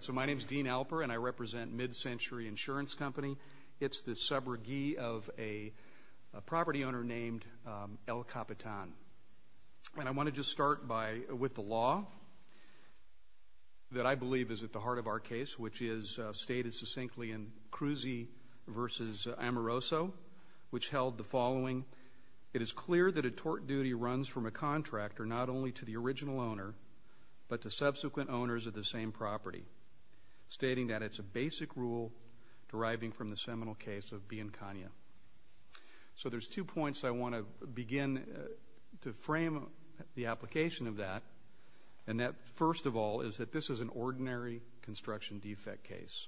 So my name is Dean Alper, and I represent Mid-Century Insurance Company. It's the subrogee of a property owner named El Capitan. And I want to just start with the law that I believe is at the heart of our case, which is stated succinctly in Cruzi v. Amoroso, which held the following, it is clear that a tort duty runs from a contractor not only to the original owner, but to subsequent owners of the same property, stating that it's a basic rule deriving from the seminal case of Bianconia. So there's two points I want to begin to frame the application of that, and that, first of all, is that this is an ordinary construction defect case.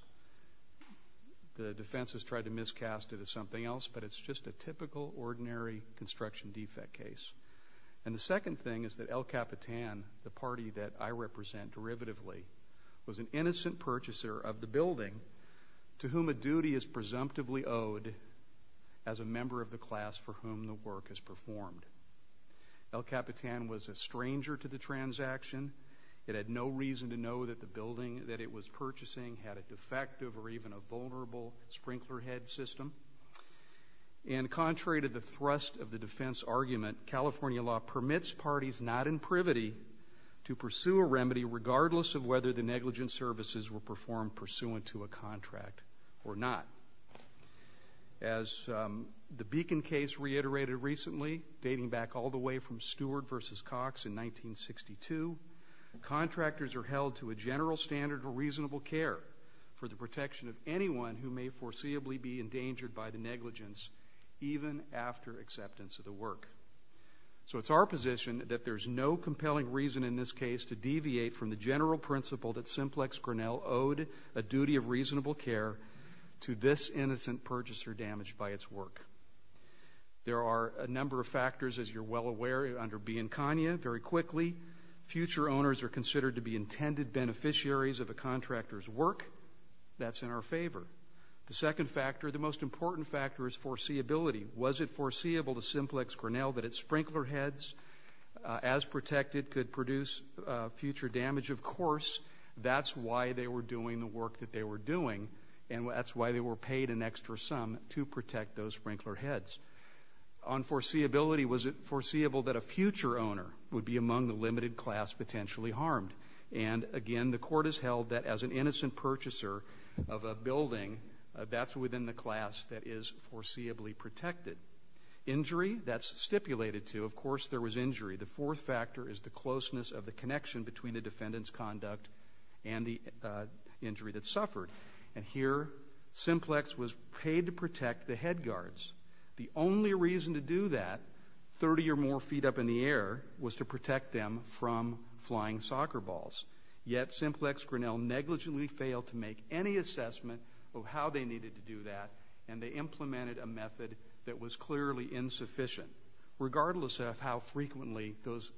The defense has tried to miscast it as something else, but it's just a typical, ordinary construction defect case. And the second thing is that El Capitan, the party that I represent derivatively, was an innocent purchaser of the building to whom a duty is presumptively owed as a member of the class for whom the work is performed. El Capitan was a stranger to the transaction. It had no reason to know that the building that it was purchasing had a defective or even a vulnerable sprinkler head system. And contrary to the thrust of the defense argument, California law permits parties not in privity to pursue a remedy regardless of whether the negligent services were performed pursuant to a contract or not. As the Beacon case reiterated recently, dating back all the way from Stewart v. Cox in 1962, contractors are held to a general standard of reasonable care for the protection of anyone who may foreseeably be endangered by the negligence even after acceptance of the work. So it's our position that there's no compelling reason in this case to deviate from the general principle that Simplex Grinnell owed a duty of reasonable care to this innocent purchaser damaged by its work. There are a number of factors, as you're well aware, under Bianconia. Very quickly, future owners are considered to be intended beneficiaries of a contractor's work. That's in our favor. The second factor, the most important factor, is foreseeability. Was it foreseeable to Simplex Grinnell that its sprinkler heads, as protected, could produce future damage? Of course, that's why they were doing the work that they were doing, and that's why they were paid an extra sum to protect those sprinkler heads. On foreseeability, was it foreseeable that a future owner would be among the limited class potentially harmed? And again, the Court has held that as an innocent purchaser of a building, that's within the class that is foreseeably protected. Injury, that's stipulated, too. Of course, there was injury. The fourth factor is the closeness of the connection between the defendant's conduct and the injury that suffered. And here, Simplex was paid to protect the head guards. The only reason to do that, 30 or more feet up in the air, was to protect them from flying soccer balls. Yet Simplex Grinnell negligently failed to make any assessment of how they needed to do that, and they implemented a method that was clearly insufficient, regardless of how frequently those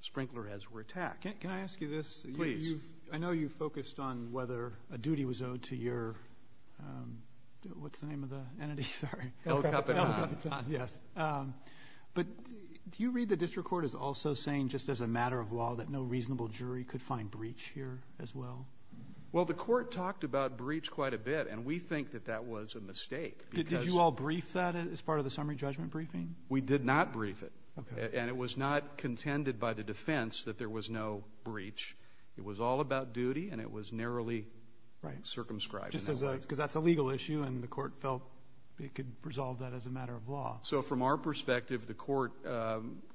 sprinkler heads were attacked. Can I ask you this? Please. I know you focused on whether a duty was owed to your, what's the name of the entity? Sorry. El Capitan. El Capitan, yes. But do you read the district court as also saying just as a matter of law that no reasonable jury could find breach here as well? Well, the court talked about breach quite a bit, and we think that that was a mistake. Did you all brief that as part of the summary judgment briefing? We did not brief it. Okay. And it was not contended by the defense that there was no breach. It was all about duty, and it was narrowly circumscribed. Because that's a legal issue, and the court felt it could resolve that as a matter of law. So from our perspective, the court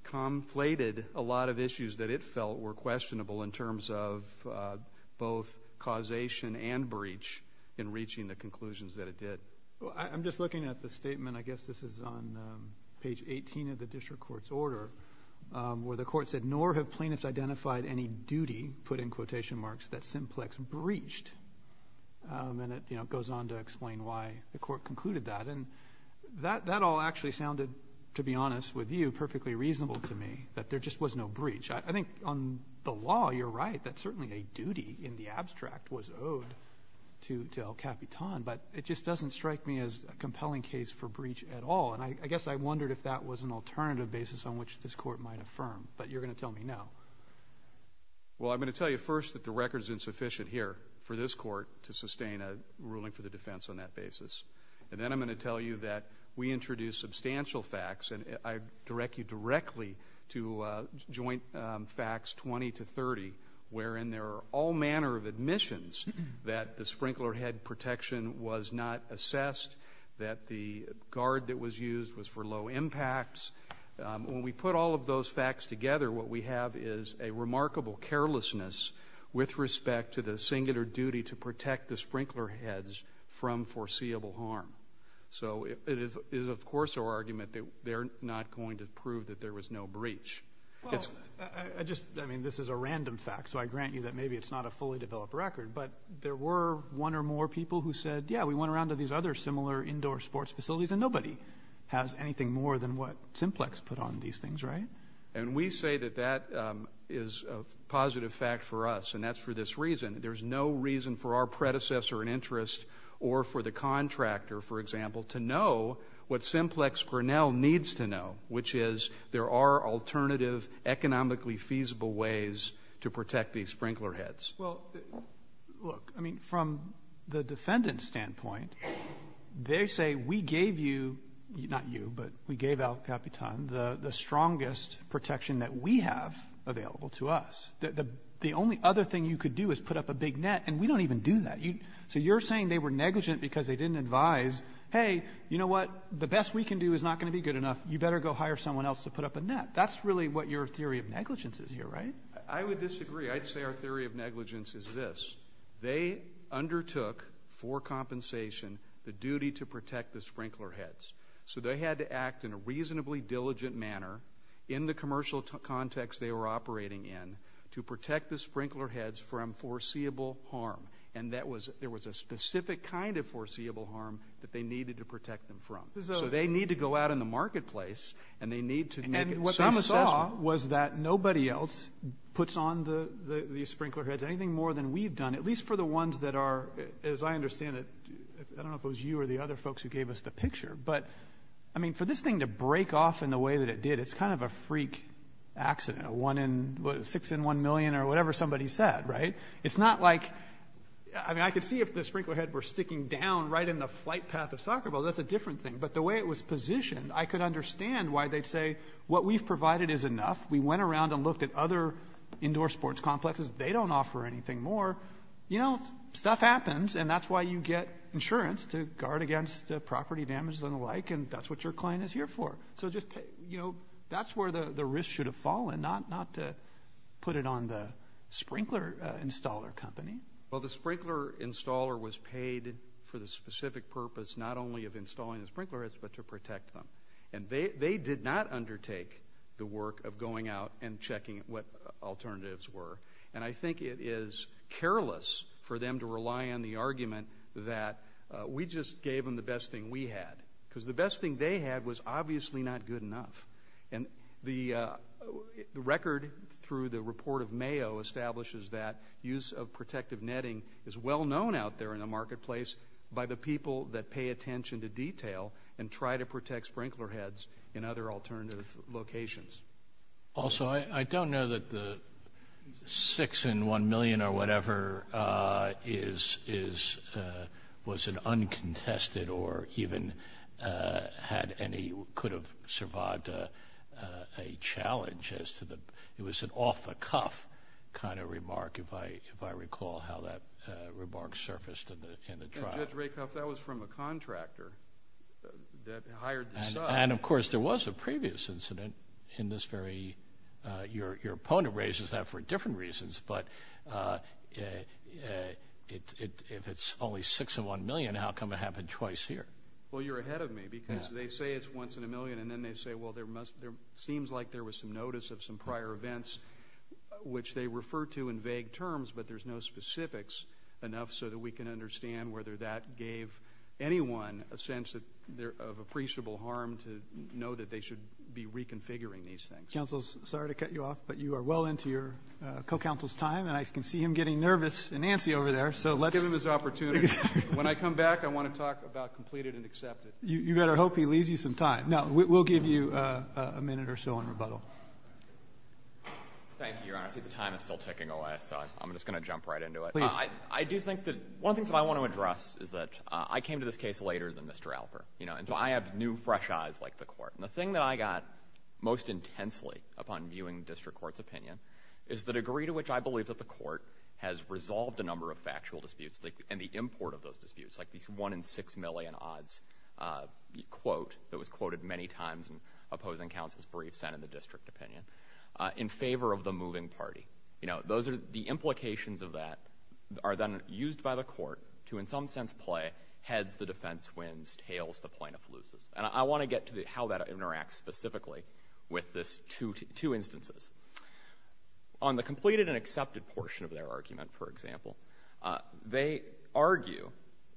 conflated a lot of issues that it felt were questionable in terms of both causation and breach in reaching the conclusions that it did. I'm just looking at the statement, I guess this is on page 18 of the district court's identified any duty, put in quotation marks, that Simplex breached. And it, you know, goes on to explain why the court concluded that. And that all actually sounded, to be honest with you, perfectly reasonable to me, that there just was no breach. I think on the law, you're right, that certainly a duty in the abstract was owed to El Capitan, but it just doesn't strike me as a compelling case for breach at all. And I guess I wondered if that was an alternative basis on which this Court might draw from, but you're going to tell me now. Well, I'm going to tell you first that the record is insufficient here for this Court to sustain a ruling for the defense on that basis. And then I'm going to tell you that we introduced substantial facts, and I direct you directly to Joint Facts 20 to 30, wherein there are all manner of admissions that the sprinkler head protection was not assessed, that the guard that was used was for low impacts. When we put all of those facts together, what we have is a remarkable carelessness with respect to the singular duty to protect the sprinkler heads from foreseeable harm. So it is, of course, our argument that they're not going to prove that there was no breach. Well, I just, I mean, this is a random fact, so I grant you that maybe it's not a fully developed record, but there were one or more people who said, yeah, we went around a lot of these other similar indoor sports facilities, and nobody has anything more than what Simplex put on these things, right? And we say that that is a positive fact for us, and that's for this reason. There's no reason for our predecessor in interest or for the contractor, for example, to know what Simplex Grinnell needs to know, which is there are alternative, economically feasible ways to protect these sprinkler heads. Well, look, I mean, from the defendant's standpoint, they say we gave you, not you, but we gave El Capitan the strongest protection that we have available to us. The only other thing you could do is put up a big net, and we don't even do that. So you're saying they were negligent because they didn't advise, hey, you know what? The best we can do is not going to be good enough. You better go hire someone else to put up a net. That's really what your theory of negligence is here, right? I would disagree. I'd say our theory of negligence is this. They undertook, for compensation, the duty to protect the sprinkler heads. So they had to act in a reasonably diligent manner in the commercial context they were operating in to protect the sprinkler heads from foreseeable harm. And that was — there was a specific kind of foreseeable harm that they needed to protect them from. So they need to go out in the marketplace, and they need to make some assessment. What we found out was that nobody else puts on these sprinkler heads, anything more than we've done, at least for the ones that are, as I understand it, I don't know if it was you or the other folks who gave us the picture, but, I mean, for this thing to break off in the way that it did, it's kind of a freak accident, a one in — six in one million or whatever somebody said, right? It's not like — I mean, I could see if the sprinkler head were sticking down right in the flight path of soccer balls. That's a different thing. But the way it was positioned, I could understand why they'd say what we've provided is enough. We went around and looked at other indoor sports complexes. They don't offer anything more. You know, stuff happens, and that's why you get insurance to guard against property damage and the like, and that's what your client is here for. So just, you know, that's where the risk should have fallen, not to put it on the sprinkler installer company. Well, the sprinkler installer was paid for the specific purpose not only of installing the sprinkler heads, but to protect them. And they did not undertake the work of going out and checking what alternatives were. And I think it is careless for them to rely on the argument that we just gave them the best thing we had, because the best thing they had was obviously not good enough. And the record through the report of Mayo establishes that use of protective netting is well known out there in the marketplace by the people that pay attention to detail and try to protect sprinkler heads in other alternative locations. Also, I don't know that the six in one million or whatever is, was an uncontested or even had any, could have survived a challenge as to the, it was an off-the-cuff kind of remark, if I recall how that remark surfaced in the trial. And, Judge Rakoff, that was from a contractor that hired the sub. And, of course, there was a previous incident in this very, your opponent raises that for different reasons, but if it's only six in one million, how come it happened twice here? Well, you're ahead of me, because they say it's once in a million, and then they say, well, there must, there seems like there was some notice of some prior events which they refer to in vague terms, but there's no specifics enough so that we can understand whether that gave anyone a sense of appreciable harm to know that they should be reconfiguring these things. Counsel, sorry to cut you off, but you are well into your co-counsel's time, and I can see him getting nervous and antsy over there. Let's give him his opportunity. When I come back, I want to talk about completed and accepted. You better hope he leaves you some time. No, we'll give you a minute or so in rebuttal. Thank you, Your Honor. See, the time is still ticking away, so I'm just going to jump right into it. Please. I do think that one of the things that I want to address is that I came to this case later than Mr. Alper, you know, and so I have new fresh eyes like the Court. And the thing that I got most intensely upon viewing the district court's opinion is the degree to which I believe that the Court has resolved a number of factual disputes and the import of those disputes, like these one in six million odds quote that was quoted many times in opposing counsel's brief sent in the district opinion, in favor of the moving party. You know, those are the implications of that are then used by the Court to in some sense play heads, the defense wins, tails, the plaintiff loses. And I want to get to how that interacts specifically with this two instances. On the completed and accepted portion of their argument, for example, they argue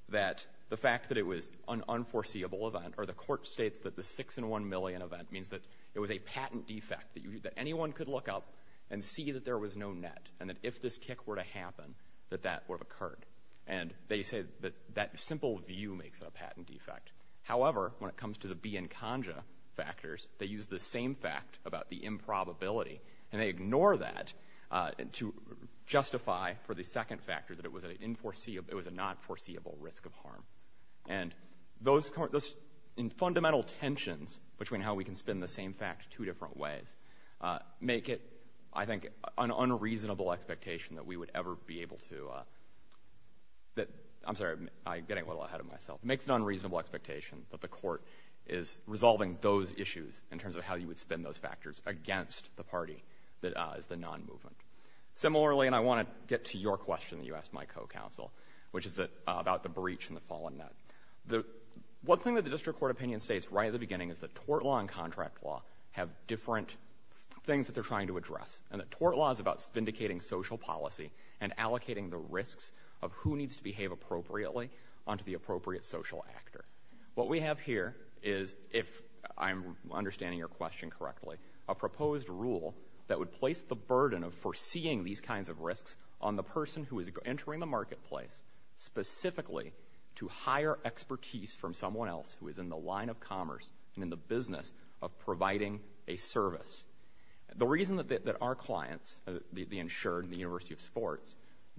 that the fact that it was an unforeseeable event, or the Court states that the 6-in-1 million event means that it was a patent defect, that anyone could look up and see that there was no net, and that if this kick were to happen, that that would have occurred. And they say that that simple view makes it a patent defect. However, when it comes to the be in conja factors, they use the same fact about the improbability, and they ignore that to justify for the second factor that it was a not foreseeable risk of harm. And those in fundamental tensions between how we can spin the same fact two different ways make it, I think, an unreasonable expectation that we would ever be able to that, I'm sorry, I'm getting a little ahead of myself, makes it an unreasonable expectation that the Court is resolving those issues in terms of how you would spin those factors against the party that is the nonmovement. Similarly, and I want to get to your question that you asked my co-counsel, which is about the breach and the fallen net. The one thing that the district court opinion states right at the beginning is that tort law and contract law have different things that they're trying to address, and that tort law is about vindicating social policy and allocating the risks of who needs to behave appropriately onto the appropriate social actor. What we have here is, if I'm understanding your question correctly, a proposed rule that would place the burden of foreseeing these kinds of risks on the person who is entering the marketplace specifically to hire expertise from someone else who is in the line of commerce and in the business of providing a service. The reason that our clients, the insured and the University of Sports,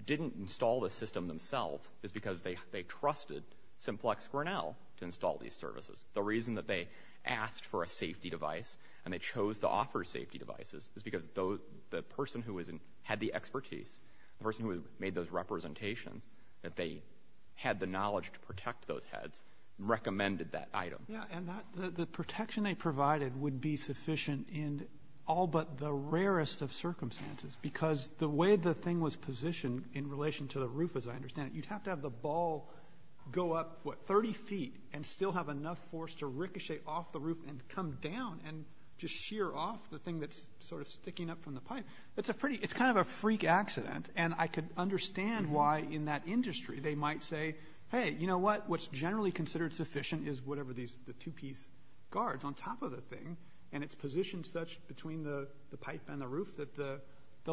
didn't install the system themselves is because they trusted Simplex Grinnell to install these services. The reason that they asked for a safety device and they chose to offer safety devices is because the person who had the expertise, the person who made those representations, that they had the knowledge to protect those heads, recommended that item. Robertson, Yeah. And the protection they provided would be sufficient in all but the rarest of circumstances. Because the way the thing was positioned in relation to the roof, as I understand it, you'd have to have the ball go up, what, 30 feet and still have enough force to ricochet off the roof and come down and just shear off the thing that's sort of sticking up from the pipe. It's a pretty, it's kind of a freak accident. And I could understand why in that industry they might say, hey, you know what? What's generally considered sufficient is whatever these, the two-piece guards on top of the thing. And it's positioned such between the pipe and the roof that the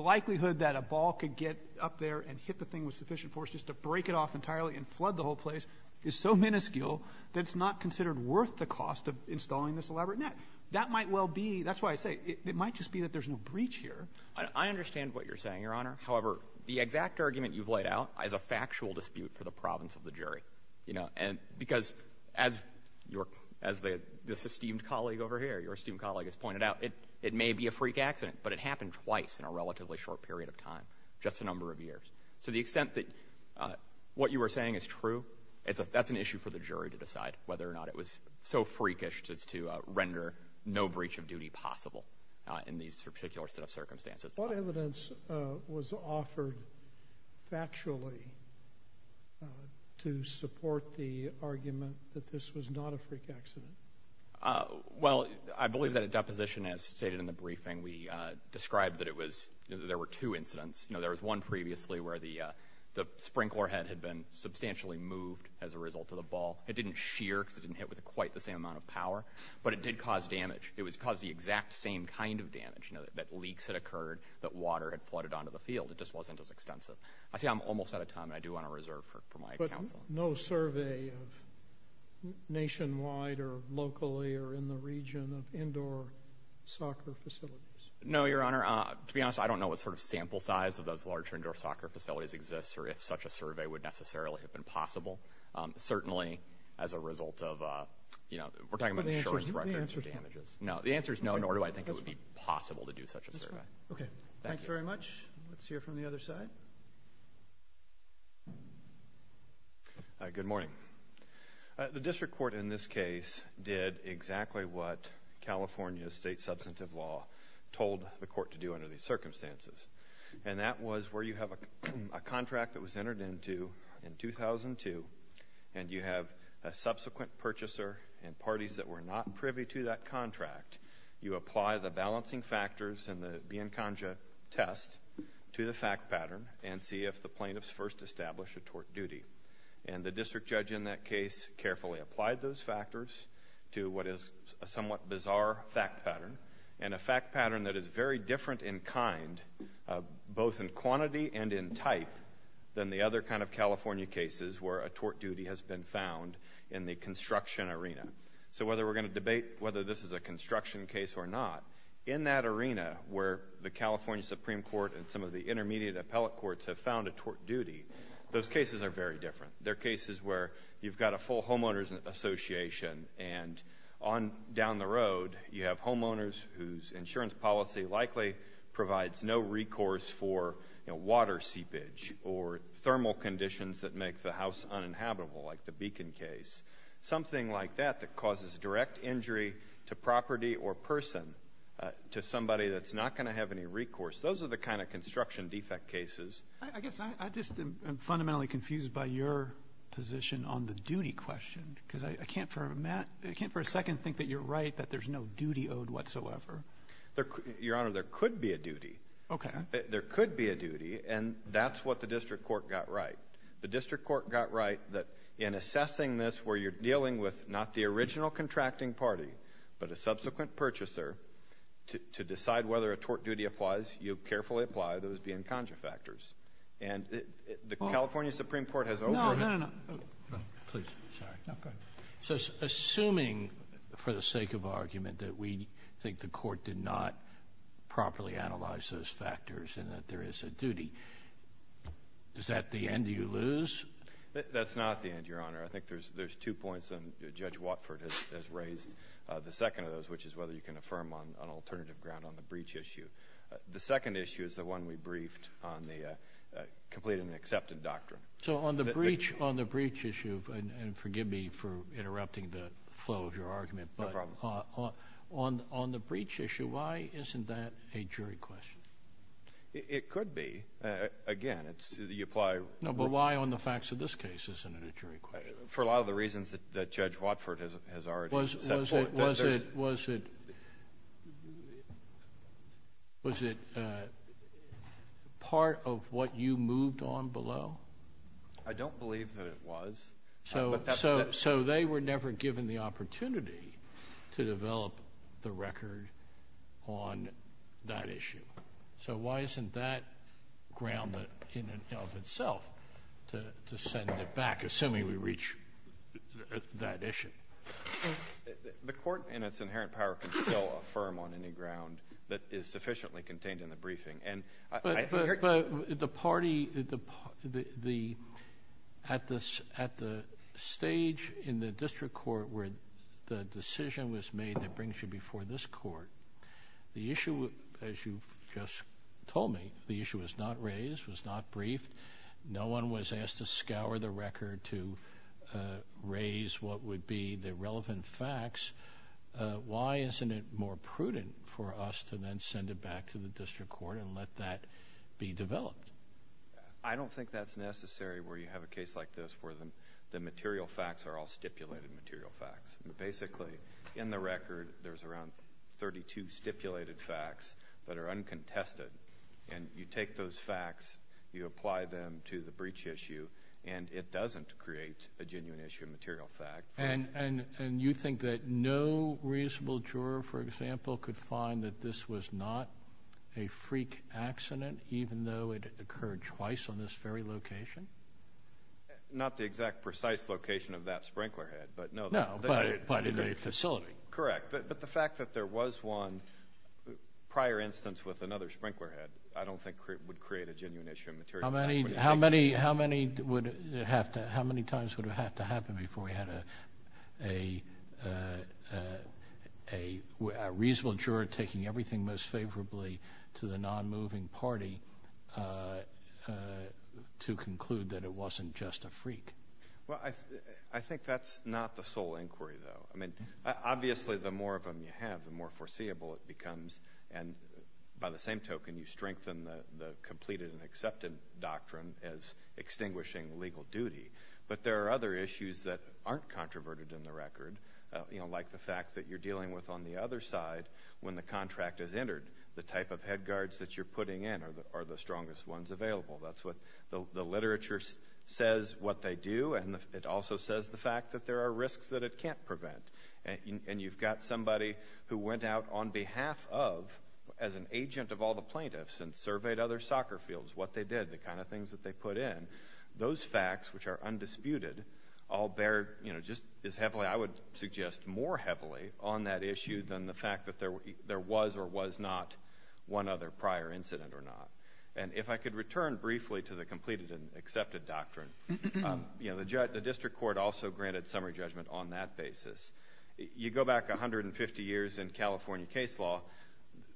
likelihood that a ball could get up there and hit the thing with sufficient force just to break it off entirely and flood the whole place is so minuscule that it's not considered worth the cost of installing this elaborate net. That might well be, that's why I say, it might just be that there's no breach here. I understand what you're saying, Your Honor. However, the exact argument you've laid out is a factual dispute for the province of the jury, you know. And because as your, as this esteemed colleague over here, your esteemed colleague has pointed out, it may be a freak accident, but it happened twice in a relatively short period of time, just a number of years. So the extent that what you were saying is true, it's a, that's an issue for the jury to decide whether or not it was so freakish just to render no breach of duty possible in these particular set of circumstances. What evidence was offered factually to support the argument that this was not a freak accident? Well, I believe that at deposition, as stated in the briefing, we described that it was, that there were two incidents. You know, there was one previously where the sprinkler head had been substantially moved as a result of the ball. It didn't shear because it didn't hit with quite the same amount of power, but it did cause damage. It caused the exact same kind of damage, you know, that leaks had occurred, that water had flooded onto the field. It just wasn't as extensive. I see I'm almost out of time, and I do want to reserve for my counsel. No survey of nationwide or locally or in the region of indoor soccer facilities? No, Your Honor. To be honest, I don't know what sort of sample size of those larger indoor soccer facilities exists or if such a survey would necessarily have been possible. Certainly, as a result of, you know, we're talking about insurance record damages. No, the answer is no, nor do I think it would be possible to do such a survey. Okay. Thanks very much. Let's hear from the other side. Good morning. The district court in this case did exactly what California state substantive law told the court to do under these circumstances, and that was where you have a contract that was entered into in 2002, and you have a subsequent purchaser and parties that were not privy to that contract. You apply the balancing factors in the Biancongia test to the fact pattern and see if the plaintiffs first establish a tort duty. And the district judge in that case carefully applied those factors to what is a somewhat bizarre fact pattern and a fact pattern that is very different in kind, both in quantity and in type, than the other kind of California cases where a tort duty has been found in the construction arena. So whether we're going to debate whether this is a construction case or not, in that arena where the California Supreme Court and some of the intermediate appellate courts have found a tort duty, those cases are very different. They're cases where you've got a full homeowners association, and down the road you have homeowners whose insurance policy likely provides no recourse for, you know, water seepage or thermal conditions that make the house uninhabitable, like the Beacon case. Something like that that causes direct injury to property or person, to somebody that's not going to have any recourse, those are the kind of construction defect cases. I guess I just am fundamentally confused by your position on the duty question, because I can't for a second think that you're right, that there's no duty owed whatsoever. Your Honor, there could be a duty. Okay. There could be a duty, and that's what the district court got right. The district court got right that in assessing this where you're dealing with not the original contracting party, but a subsequent purchaser, to decide whether a tort duty applies, you carefully apply those Bianconchi factors. And the California Supreme Court has overruled it. No, no, no, no. Please. Sorry. No, go ahead. So assuming for the sake of argument that we think the court did not properly analyze those factors and that there is a duty, is that the end you lose? That's not the end, Your Honor. I think there's two points, and Judge Watford has raised the second of those, which is whether you can affirm on alternative ground on the breach issue. The second issue is the one we briefed on the complete and accepted doctrine. So on the breach issue, and forgive me for interrupting the flow of your argument. No problem. On the breach issue, why isn't that a jury question? It could be. Again, it's you apply. No, but why on the facts of this case isn't it a jury question? For a lot of the reasons that Judge Watford has already said. Was it part of what you moved on below? I don't believe that it was. So they were never given the opportunity to develop the record on that issue. So why isn't that ground in and of itself to send it back, assuming we reach that issue? The court in its inherent power can still affirm on any ground that is sufficiently contained in the briefing. But at the stage in the district court where the decision was made that brings you before this court, the issue, as you just told me, the issue was not raised, was not briefed. No one was asked to scour the record to raise what would be the relevant facts. Why isn't it more prudent for us to then send it back to the district court and let that be developed? I don't think that's necessary where you have a case like this where the material facts are all stipulated material facts. Basically, in the record, there's around 32 stipulated facts that are uncontested. And you take those facts, you apply them to the breach issue, and it doesn't create a genuine issue material fact. And you think that no reasonable juror, for example, could find that this was not a freak accident, even though it occurred twice on this very location? Not the exact precise location of that sprinkler head, but no. No, but in a facility. Correct. But the fact that there was one prior instance with another sprinkler head I don't think would create a genuine issue material fact. How many times would it have to happen before we had a reasonable juror taking everything most favorably to the non-moving party to conclude that it wasn't just a freak? Well, I think that's not the sole inquiry, though. I mean, obviously, the more of them you have, the more foreseeable it becomes. And by the same token, you strengthen the completed and accepted doctrine as extinguishing legal duty. But there are other issues that aren't controverted in the record, like the fact that you're dealing with on the other side when the contract is entered. The type of head guards that you're putting in are the strongest ones available. That's what the literature says what they do, and it also says the fact that there are risks that it can't prevent. And you've got somebody who went out on behalf of, as an agent of all the plaintiffs, and surveyed other soccer fields, what they did, the kind of things that they put in. Those facts, which are undisputed, all bear just as heavily, I would suggest, more heavily on that issue than the fact that there was or was not one other prior incident or not. And if I could return briefly to the completed and accepted doctrine, you know, the district court also granted summary judgment on that basis. You go back 150 years in California case law.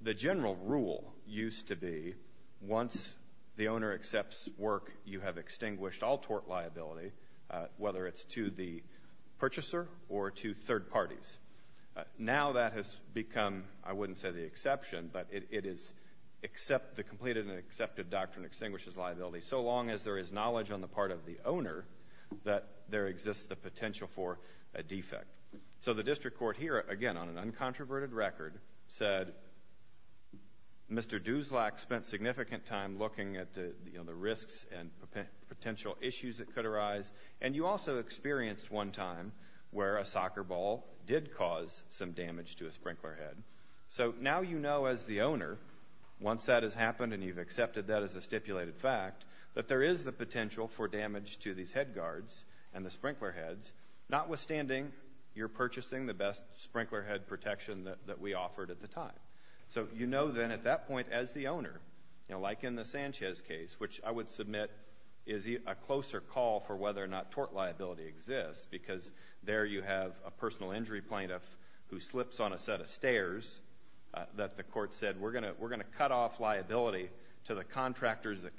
The general rule used to be once the owner accepts work, you have extinguished all tort liability, whether it's to the purchaser or to third parties. Now that has become, I wouldn't say the exception, but it is the completed and accepted doctrine extinguishes liability, so long as there is knowledge on the part of the owner that there exists the potential for a defect. So the district court here, again, on an uncontroverted record, said Mr. Duslack spent significant time looking at the risks and potential issues that could arise. And you also experienced one time where a soccer ball did cause some damage to a sprinkler head. So now you know as the owner, once that has happened and you've accepted that as a stipulated fact, that there is the potential for damage to these head guards and the sprinkler heads, notwithstanding you're purchasing the best sprinkler head protection that we offered at the time. So you know then at that point as the owner, like in the Sanchez case, which I would submit is a closer call for whether or not tort liability exists, because there you have a personal injury plaintiff who slips on a set of stairs that the court said, we're going to cut off liability to the contractors that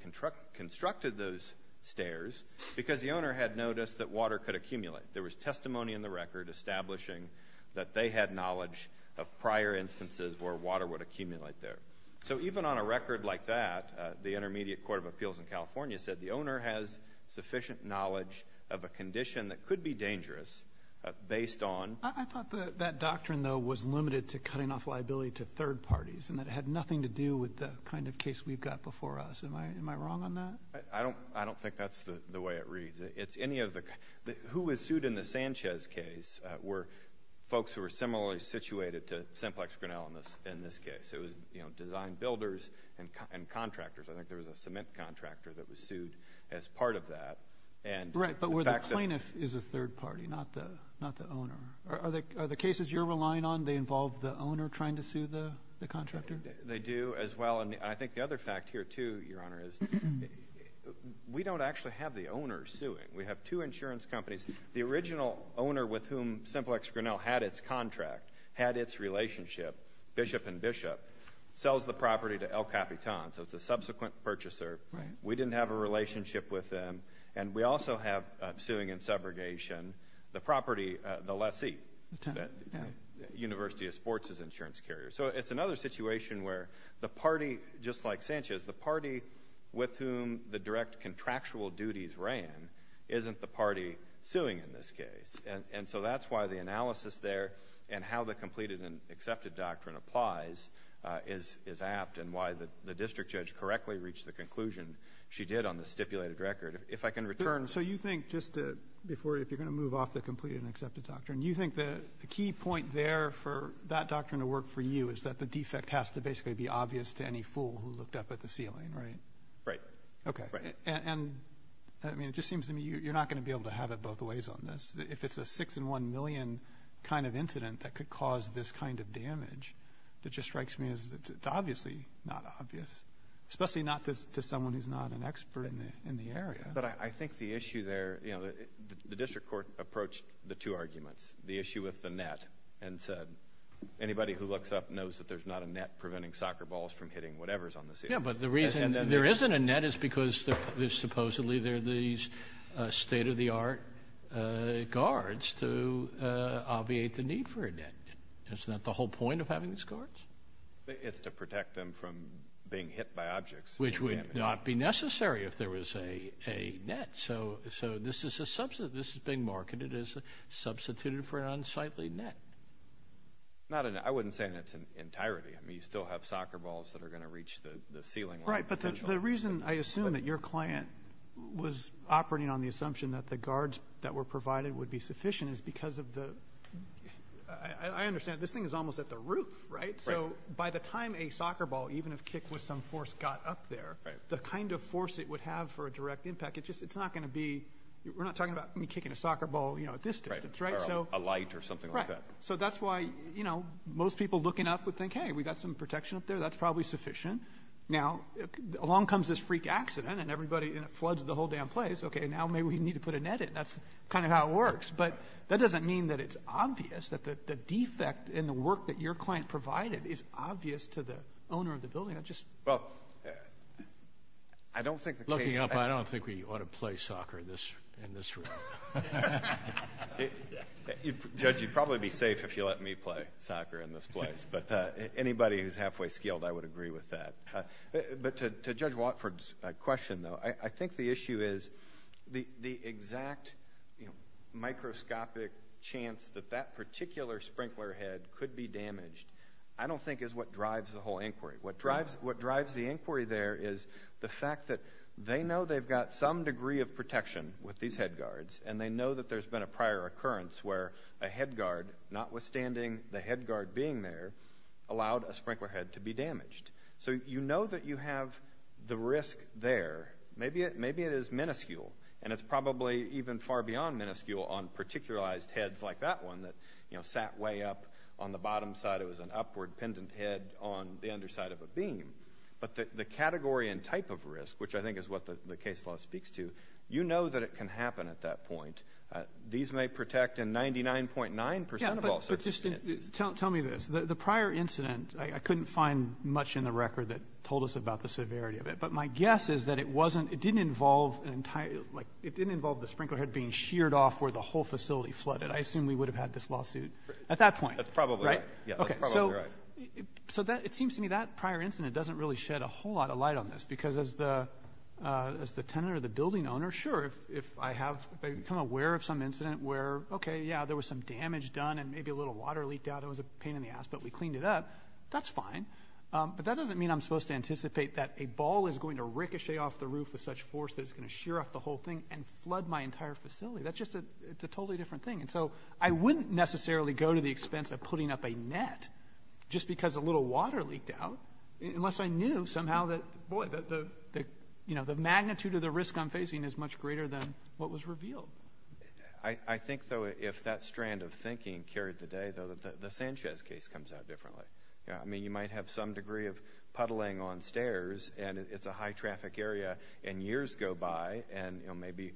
constructed those stairs because the owner had noticed that water could accumulate. There was testimony in the record establishing that they had knowledge of prior instances where water would accumulate there. So even on a record like that, the Intermediate Court of Appeals in California said the owner has sufficient knowledge of a condition that could be dangerous based on — I thought that doctrine, though, was limited to cutting off liability to third parties and that it had nothing to do with the kind of case we've got before us. Am I wrong on that? I don't think that's the way it reads. Who was sued in the Sanchez case were folks who were similarly situated to Semplex Grinnell in this case. It was design builders and contractors. I think there was a cement contractor that was sued as part of that. Right, but where the plaintiff is a third party, not the owner. Are the cases you're relying on, they involve the owner trying to sue the contractor? They do as well. I think the other fact here, too, Your Honor, is we don't actually have the owner suing. We have two insurance companies. The original owner with whom Semplex Grinnell had its contract, had its relationship, Bishop and Bishop, sells the property to El Capitan. So it's a subsequent purchaser. We didn't have a relationship with them. And we also have suing and subrogation. The property, the lessee, University of Sports' insurance carrier. So it's another situation where the party, just like Sanchez, the party with whom the direct contractual duties ran isn't the party suing in this case. And so that's why the analysis there and how the completed and accepted doctrine applies is apt and why the district judge correctly reached the conclusion she did on the stipulated record. If I can return. So you think just before, if you're going to move off the completed and accepted doctrine, you think the key point there for that doctrine to work for you is that the defect has to basically be obvious to any fool who looked up at the ceiling, right? Right. Okay. Right. And I mean, it just seems to me you're not going to be able to have it both ways on this. If it's a 6-in-1 million kind of incident that could cause this kind of damage, it just strikes me as it's obviously not obvious, especially not to someone who's not an expert in the area. But I think the issue there, you know, the district court approached the two arguments, the issue with the net and said anybody who looks up knows that there's not a net preventing soccer balls from hitting whatever's on the ceiling. Yeah, but the reason there isn't a net is because supposedly there are these state-of-the-art guards to obviate the need for a net. Isn't that the whole point of having these guards? It's to protect them from being hit by objects. Which would not be necessary if there was a net. So this is a substitute. This is being marketed as a substitute for an unsightly net. Not a net. I wouldn't say a net in entirety. I mean, you still have soccer balls that are going to reach the ceiling. Right. But the reason I assume that your client was operating on the assumption that the guards that were provided would be sufficient is because of the ‑‑ I understand. This thing is almost at the roof, right? Right. So by the time a soccer ball, even if kicked with some force, got up there, the kind of force it would have for a direct impact, it's not going to be ‑‑ we're not talking about kicking a soccer ball, you know, at this distance, right? Or a light or something like that. Right. So that's why, you know, most people looking up would think, hey, we've got some protection up there. That's probably sufficient. Now, along comes this freak accident, and it floods the whole damn place. Okay, now maybe we need to put a net in. That's kind of how it works. But that doesn't mean that it's obvious, that the defect in the work that your client provided is obvious to the owner of the building. I just ‑‑ Well, I don't think the case ‑‑ Looking up, I don't think we ought to play soccer in this room. Judge, you'd probably be safe if you let me play soccer in this place. But anybody who's halfway skilled, I would agree with that. But to Judge Watford's question, though, I think the issue is the exact, you know, microscopic chance that that particular sprinkler head could be damaged I don't think is what drives the whole inquiry. What drives the inquiry there is the fact that they know they've got some degree of protection with these head guards, and they know that there's been a prior occurrence where a head guard, notwithstanding the head guard being there, allowed a sprinkler head to be damaged. So you know that you have the risk there. Maybe it is minuscule, and it's probably even far beyond minuscule on particularized heads like that one that, you know, sat way up on the bottom side. It was an upward-pendant head on the underside of a beam. But the category and type of risk, which I think is what the case law speaks to, you know that it can happen at that point. These may protect in 99.9 percent of all circumstances. Tell me this. The prior incident, I couldn't find much in the record that told us about the severity of it. But my guess is that it wasn't — it didn't involve an entire — like, it didn't involve the sprinkler head being sheared off where the whole facility flooded. I assume we would have had this lawsuit at that point. That's probably right. Right? Yeah, that's probably right. Okay. So that — it seems to me that prior incident doesn't really shed a whole lot of light on this, because as the tenant or the building owner, sure, if I have — if I become aware of some incident where, okay, yeah, there was some damage done and maybe a little water leaked out. It was a pain in the ass, but we cleaned it up. That's fine. But that doesn't mean I'm supposed to anticipate that a ball is going to ricochet off the roof with such force that it's going to shear off the whole thing and flood my entire facility. That's just a — it's a totally different thing. And so I wouldn't necessarily go to the expense of putting up a net just because a little water leaked out, unless I knew somehow that, boy, the — you know, the magnitude of the risk I'm facing is much greater than what was revealed. I think, though, if that strand of thinking carried the day, though, that the Sanchez case comes out differently. You know, I mean, you might have some degree of puddling on stairs, and it's a high-traffic area, and years go by, and, you know, maybe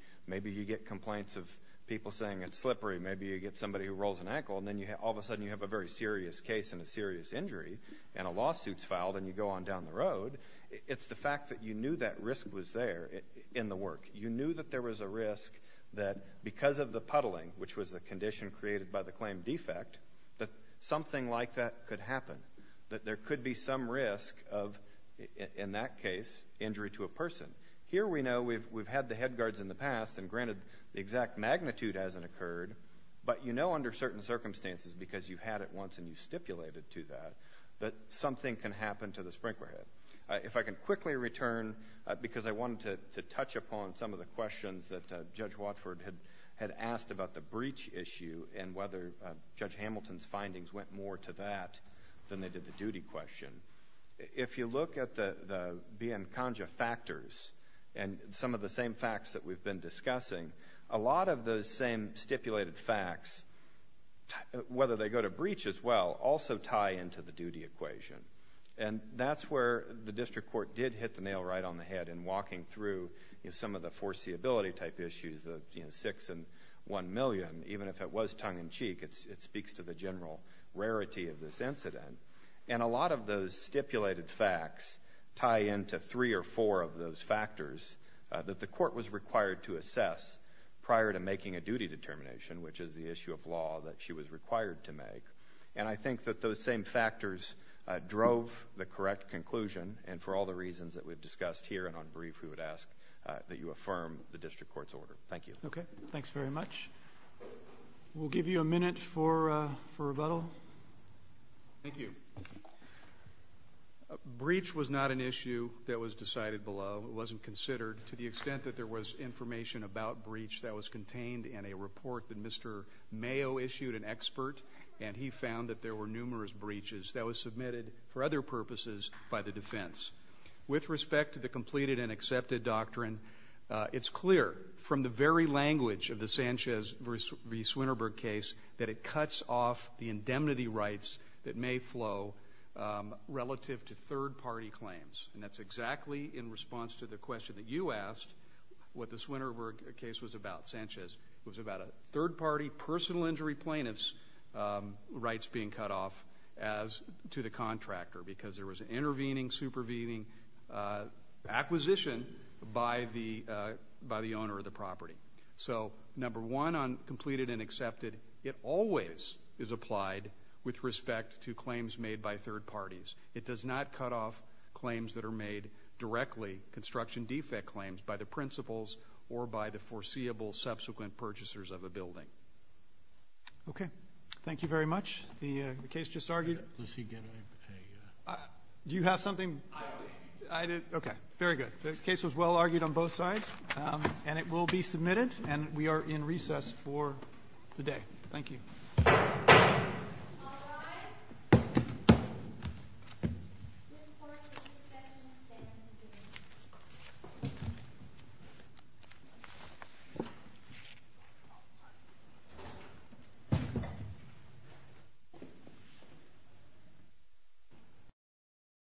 you get complaints of people saying it's slippery. Maybe you get somebody who rolls an ankle, and then all of a sudden you have a very serious case and a serious injury, and a lawsuit's filed, and you go on down the road. It's the fact that you knew that risk was there in the work. You knew that there was a risk that because of the puddling, which was the condition created by the claim defect, that something like that could happen, that there could be some risk of, in that case, injury to a person. Here we know we've had the head guards in the past, and granted the exact magnitude hasn't occurred, but you know under certain circumstances, because you've had it once and you've stipulated to that, that something can happen to the sprinkler head. If I can quickly return, because I wanted to touch upon some of the questions that Judge Watford had asked about the breach issue and whether Judge Hamilton's findings went more to that than they did the duty question. If you look at the Biancongia factors and some of the same facts that we've been discussing, a lot of those same stipulated facts, whether they go to breach as well, also tie into the duty equation. And that's where the district court did hit the nail right on the head in walking through some of the foreseeability type issues, the six and one million, even if it was tongue in cheek, it speaks to the general rarity of this incident. And a lot of those stipulated facts tie into three or four of those factors that the court was required to assess prior to making a duty determination, which is the issue of law that she was required to make. And I think that those same factors drove the correct conclusion. And for all the reasons that we've discussed here and on brief, we would ask that you affirm the district court's order. Thank you. Okay. Thanks very much. We'll give you a minute for rebuttal. Thank you. Breach was not an issue that was decided below. It wasn't considered to the extent that there was information about breach that was contained in a report that Mr. Mayo issued, an expert, and he found that there were numerous breaches that were submitted for other purposes by the defense. With respect to the completed and accepted doctrine, it's clear from the very language of the Sanchez v. Swinterberg case that it cuts off the indemnity rights that may flow relative to third party claims. And that's exactly, in response to the question that you asked, what the Swinterberg case was about, Sanchez. It was about a third party personal injury plaintiff's rights being cut off as to the contractor because there was an intervening, supervening acquisition by the owner of the property. So, number one, on completed and accepted, it always is applied with respect to claims made by third parties. It does not cut off claims that are made directly, construction defect claims, by the principals or by the foreseeable subsequent purchasers of a building. Okay. Thank you very much. The case just argued. Does he get a? Do you have something? I do. Okay. Very good. The case was well argued on both sides, and it will be submitted, and we are in recess for the day. Thank you. All rise.